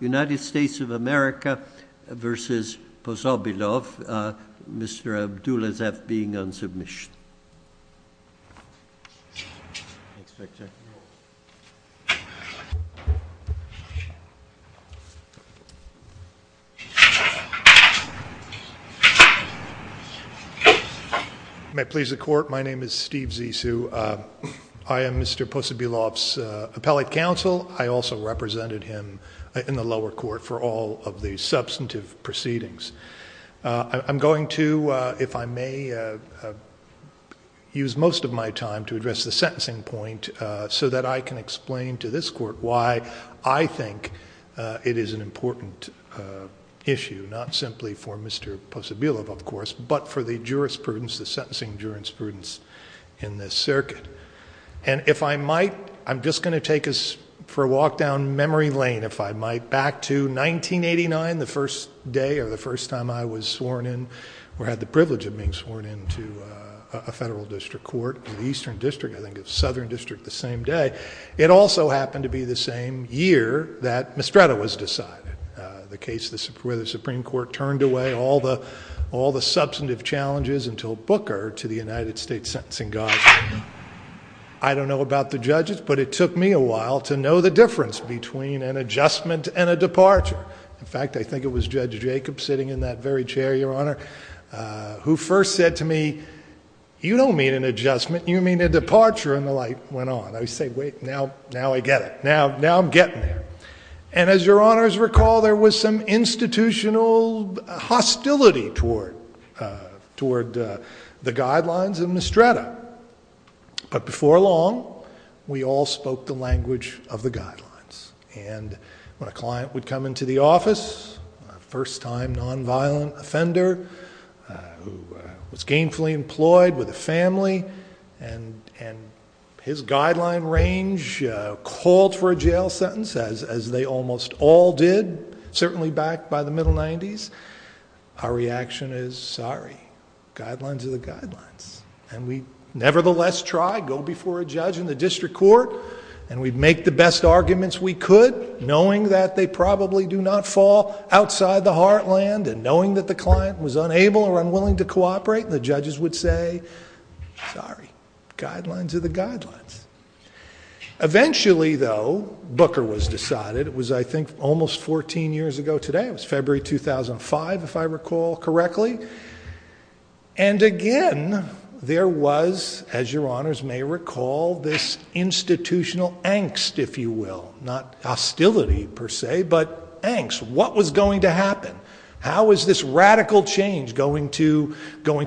United States of America v. Posobilov, Mr. Abdulaziz being on submission. May it please the court, my name is Steve Zissou. I am Mr. Posobilov's appellate counsel. I also represented him in the lower court for all of the substantive proceedings. I'm going to, if I may, use most of my time to address the sentencing point so that I can explain to this court why I think it is an important issue, not simply for Mr. Posobilov of course, but for the jurisprudence, the sentencing jurisprudence in this circuit. And if I might, I'm just going to take us for a walk down memory lane, if I might, back to 1989, the first day or the first time I was sworn in or had the privilege of being sworn in to a federal district court in the Eastern District, I think it was Southern District the same day. It also happened to be the same year that Mistretto was decided, the case where the Supreme Court turned away all the substantive challenges until Booker to the United States Sentencing Council. I don't know about the judges, but it took me a while to know the difference between an adjustment and a departure. In fact, I think it was Judge Jacob sitting in that very chair, Your Honor, who first said to me, you don't mean an adjustment, you mean a departure, and the light went on. I said, wait, now I get it. Now I'm getting there. And as Your Honors recall, there was some institutional hostility toward the guidelines of Mistretto. But before long, we all spoke the language of the guidelines. And when a client would come into the office, a first-time nonviolent offender who was gainfully employed with a family, and his guideline range called for a release, our reaction is, sorry, guidelines are the guidelines. And we nevertheless try, go before a judge in the district court, and we make the best arguments we could, knowing that they probably do not fall outside the heartland, and knowing that the client was unable or unwilling to cooperate, the judges would say, sorry, guidelines are the guidelines. Eventually though, Booker was decided, it was I think almost fourteen years ago today, it was February 2005 if I recall correctly. And again, there was, as Your Honors may recall, this institutional angst, if you will, not hostility per se, but angst. What was going to happen? How was this radical change going to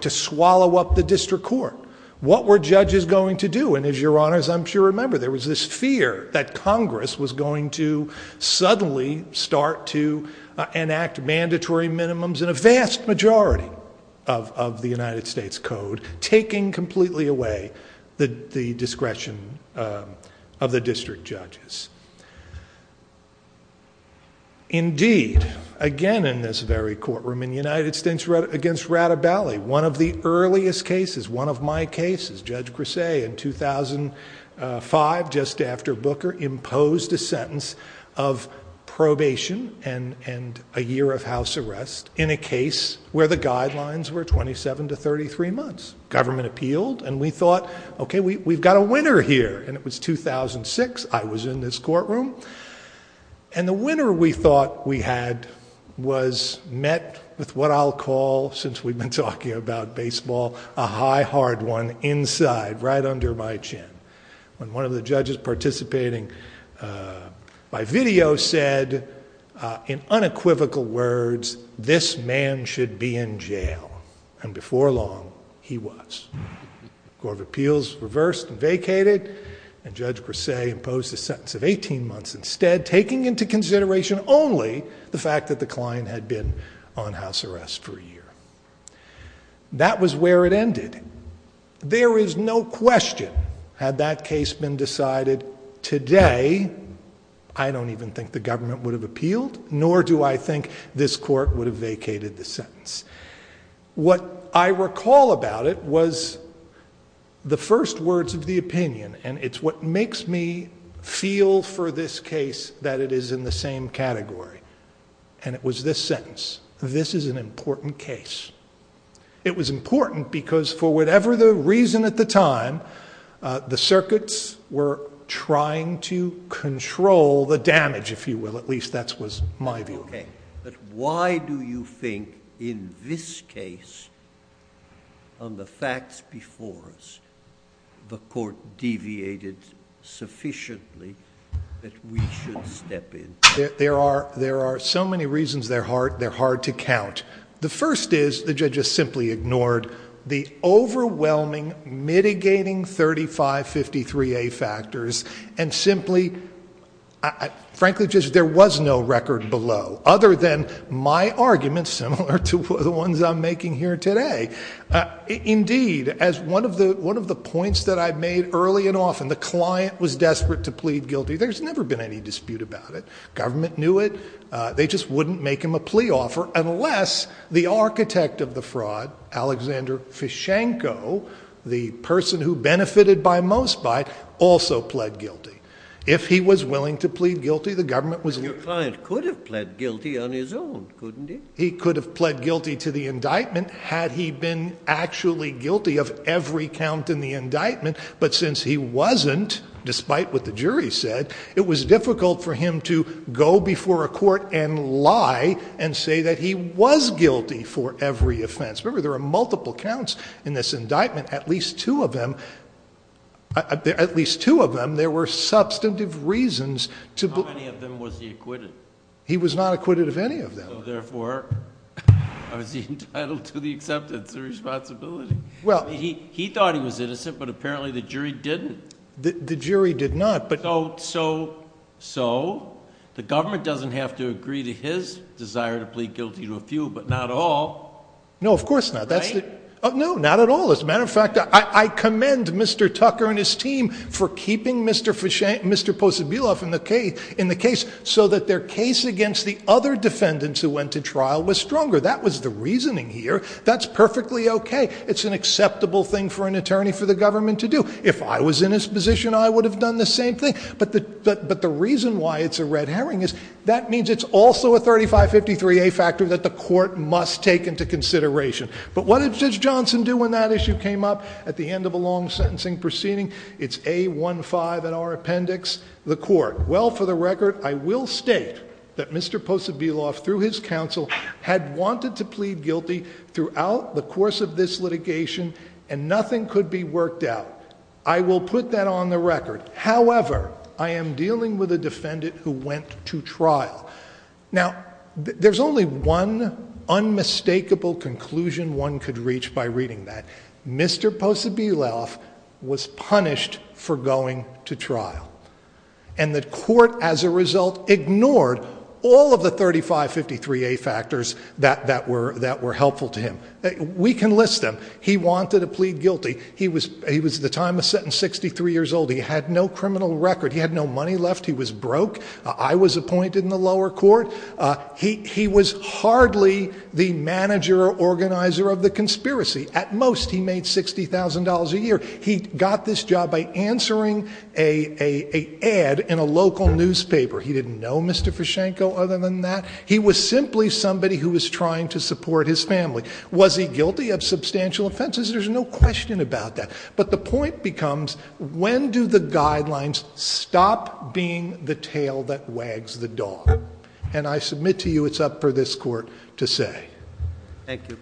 swallow up the district court? What were judges going to do? And as Your Honors I'm sure remember, there was this fear that Congress was going to suddenly start to enact mandatory minimums in a vast majority of the United States Code, taking completely away the discretion of the district judges. Indeed, again in this very courtroom in the United States against Rattabelli, one of the judges posed a sentence of probation and a year of house arrest in a case where the guidelines were 27 to 33 months. Government appealed, and we thought, okay, we've got a winner here. And it was 2006, I was in this courtroom, and the winner we thought we had was met with what I'll call, since we've been talking about baseball, a high hard one inside, right under my chin. When one of the judges participating by video said in unequivocal words, this man should be in jail. And before long, he was. Court of Appeals reversed and vacated, and Judge Grasse imposed a sentence of 18 months instead, taking into consideration only the fact that the client had been on house arrest for a year. That was where it ended. There is no question, had that case been decided today, I don't even think the government would have appealed, nor do I think this court would have vacated the sentence. What I recall about it was the first words of the opinion, and it's what makes me feel for this case that it is in the same category, and it was this sentence. This is an important case. It was important because for whatever the reason at the time, the circuits were trying to control the damage, if you will, at least that was my view. Why do you think in this case, on the facts before us, the court deviated sufficiently that we should step in? There are so many reasons they're hard to count. The first is the judge has simply ignored the overwhelming mitigating 3553A factors and simply, frankly, there was no record below other than my argument, similar to the ones I'm making here today. Indeed, as one of the points that I made early and often, the client was desperate to plead guilty. There's never been any dispute about it. The government knew it. They just wouldn't make him a plea offer unless the architect of the fraud, Alexander Fishenko, the person who benefited by most by also pled guilty. If he was willing to plead guilty, the government was... Your client could have pled guilty on his own, couldn't he? He could have pled guilty to the indictment had he been actually guilty of every count in the indictment, but since he wasn't, despite what the jury said, it was difficult for him to go before a court and lie and say that he was guilty for every offense. Remember, there are multiple counts in this indictment, at least two of them. At least two of them, there were substantive reasons to... How many of them was he acquitted? He was not acquitted of any of them. Therefore, was he entitled to the acceptance of responsibility? He thought he was innocent, but apparently the jury didn't. The jury did not, but... So the government doesn't have to agree to his desire to plead guilty to a few, but not all, right? No, of course not. No, not at all. As a matter of fact, I commend Mr. Tucker and his team for keeping Mr. Posobiloff in the case so that their case against the other defendants who went to trial was stronger. That was the reasoning here. That's perfectly okay. It's an acceptable thing for an attorney for the government to do. If I was in his position, I would have done the same thing, but the reason why it's a red herring is that means it's also a 3553A factor that the court must take into consideration. But what did Judge Johnson do when that issue came up at the end of a long sentencing proceeding? It's A15 in our appendix, the court. Well, for the record, I will state that Mr. Posobiloff, through his counsel, had wanted to plead guilty throughout the course of this litigation and nothing could be worked out. I will put that on the record. However, I am dealing with a defendant who went to trial. Now, there's only one unmistakable conclusion one could reach by reading that. Mr. Posobiloff was punished for going to trial, and the court as a result ignored all of the 3553A factors that were helpful to him. We can list them. He wanted to plead guilty. He was, at the time of sentence, 63 years old. He had no criminal record. He had no money left. He was broke. I was appointed in the lower court. He was hardly the manager or organizer of the conspiracy. At most, he made $60,000 a newspaper. He didn't know Mr. Fischenko other than that. He was simply somebody who was trying to support his family. Was he guilty of substantial offenses? There's no question about that. But the point becomes, when do the guidelines stop being the tail that wags the dog? And I submit to you, it's up for this court to say. Thank you.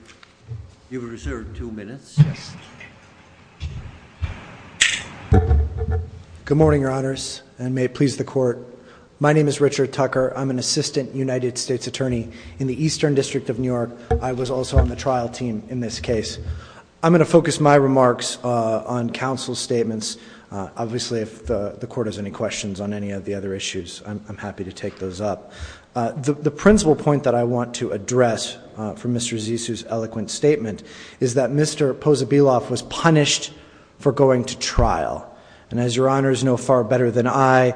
You have reserved two minutes. Good morning, your honors, and may it please the court. My name is Richard Tucker. I'm an assistant United States attorney in the Eastern District of New York. I was also on the trial team in this case. I'm going to focus my remarks on counsel's statements. Obviously, if the court has any questions on any of the other issues, I'm happy to take those up. The principal point that I want to address from Mr. Zissou's eloquent statement is that Mr. Pozobiloff was punished for going to trial. And as your honors know far better than I,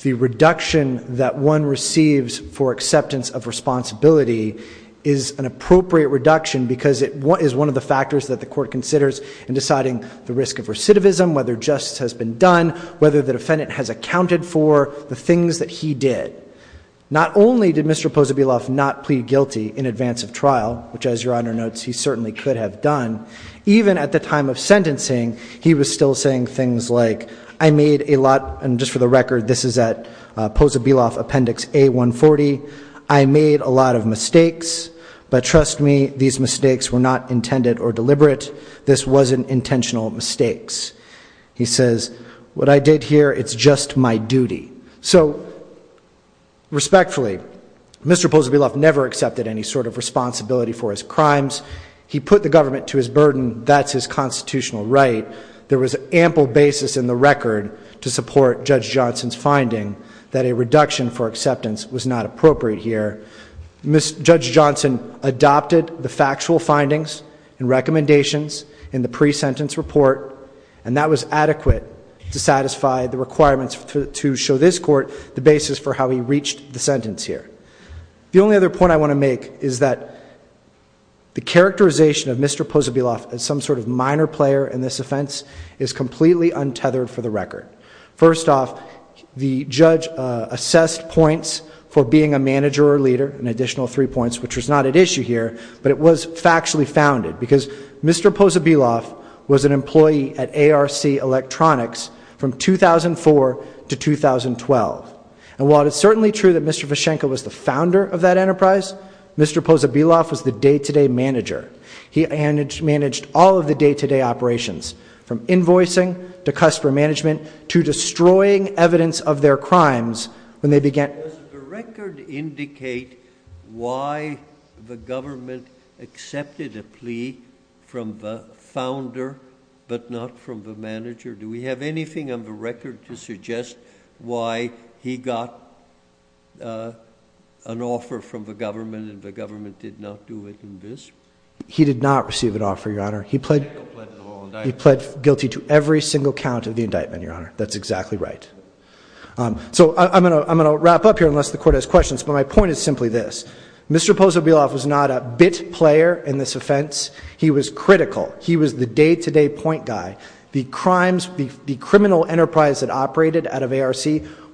the reduction that one receives for acceptance of responsibility is an appropriate reduction because it is one of the factors that the court considers in deciding the risk of recidivism, whether justice has been done, whether the defendant has accounted for the things that he did. Not only did Mr. Pozobiloff not plead guilty in advance of trial, which as your honor notes, he certainly could have done, even at the time of sentencing, he was still saying things like, I made a lot, and just for the record, this is at Pozobiloff Appendix A-140, I made a lot of mistakes, but trust me, these mistakes were not intended or deliberate. This wasn't intentional mistakes. He says, what I did here, it's just my duty. So respectfully, Mr. Pozobiloff never accepted any sort of responsibility for his crimes. He put the government to his burden, that's his constitutional right. There was ample basis in the record to support Judge Johnson's finding that a reduction for acceptance was not appropriate here. Judge Johnson adopted the factual findings and recommendations in the pre-sentence report, and that was adequate to satisfy the requirements to show this court the basis for how he reached the sentence here. The only other point I want to make is that the characterization of Mr. Pozobiloff as some sort of minor player in this offense is completely untethered for the record. First off, the judge assessed points for being a manager or leader, an additional three points, which was not at issue here, but it was factually founded, because Mr. Pozobiloff was an employee at ARC Electronics from 2004 to 2012. And while it's certainly true that Mr. Vyshenko was the founder of that enterprise, Mr. Pozobiloff was the day-to-day manager. He managed all of the day-to-day operations, from invoicing to customer management, to destroying evidence of their crimes when they began... Does the record indicate why the government accepted a plea from the founder, but not from the manager? Do we have anything on the record to suggest why he got an offer from the government and the government did not do it in this? He did not receive an offer, Your Honor. He pled guilty to every single count of the indictment, Your Honor. That's exactly right. So I'm going to wrap up here, unless the Court has questions, but my point is simply this. Mr. Pozobiloff was not a bit player in this offense. He was critical. He was the day-to-day point guy. The crimes, the criminal enterprise that operated out of ARC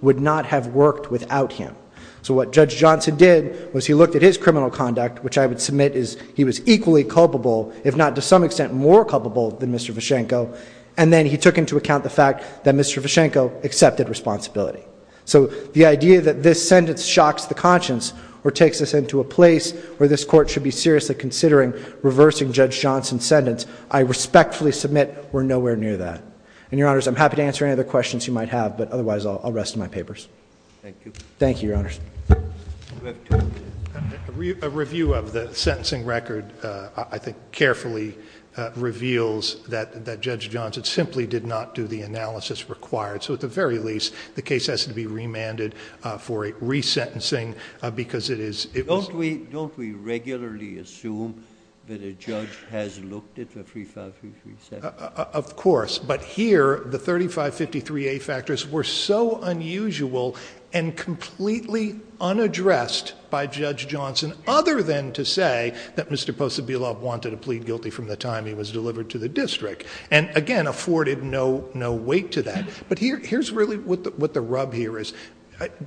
would not have worked without him. So what Judge Johnson did was he looked at his criminal conduct, which I would submit is he was equally culpable, if not to some extent more culpable than Mr. Vyshenko, and then he took into account the fact that Mr. Vyshenko accepted responsibility. So the idea that this sentence shocks the conscience or takes us into a place where this Court should be seriously considering reversing Judge Johnson's sentence, I respectfully submit we're nowhere near that. And, Your Honors, I'm happy to answer any other questions you might have, but otherwise I'll rest my papers. Thank you. Thank you, Your Honors. A review of the sentencing record, I think, carefully reveals that Judge Johnson simply did not do the analysis required. So, at the very least, the case has to be remanded for a resentencing because it is— Don't we regularly assume that a judge has looked at the 3553A? Of course. But here, the 3553A factors were so unusual and completely unaddressed by Judge Johnson, other than to say that Mr. Pozobiloff wanted to plead guilty from the time he was acquitted. There's no weight to that. But here's really what the rub here is.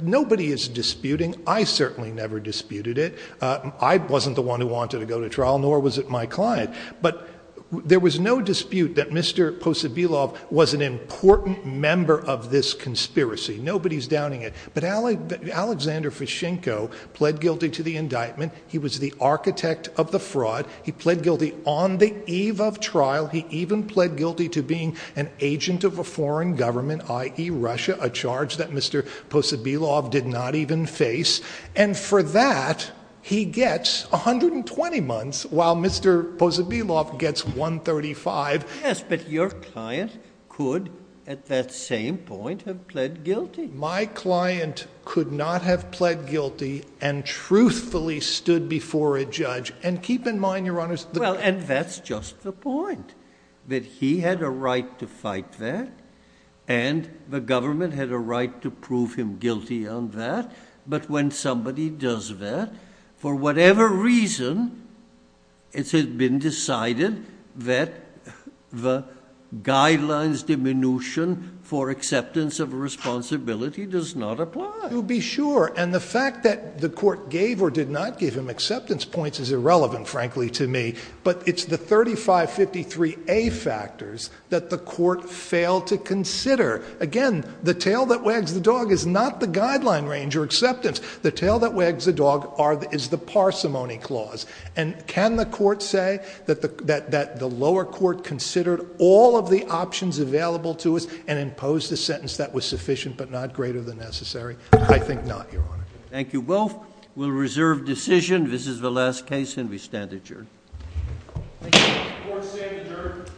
Nobody is disputing. I certainly never disputed it. I wasn't the one who wanted to go to trial, nor was it my client. But there was no dispute that Mr. Pozobiloff was an important member of this conspiracy. Nobody's downing it. But Alexander Vyshenko pled guilty to the indictment. He was the architect of the fraud. He pled guilty on the eve of trial. He even pled guilty to being an agent of a foreign government, i.e., Russia, a charge that Mr. Pozobiloff did not even face. And for that, he gets 120 months, while Mr. Pozobiloff gets 135. Yes, but your client could, at that same point, have pled guilty. My client could not have pled guilty and truthfully stood before a judge. And keep in mind, Your Honors— Well, and that's just the point, that he had a right to fight that, and the government had a right to prove him guilty on that. But when somebody does that, for whatever reason, it has been decided that the guidelines diminution for acceptance of responsibility does not apply. You'll be sure. And the fact that the court gave or did not give him acceptance points is irrelevant, frankly, to me. But it's the 3553A factors that the court failed to consider. Again, the tail that wags the dog is not the guideline range or acceptance. The tail that wags the dog is the parsimony clause. And can the court say that the lower court considered all of the options available to us and imposed a sentence that was sufficient but not greater than necessary? I think not, Your Honor. Thank you both. We'll reserve decision. This is the last case, and we stand adjourned. Court is adjourned.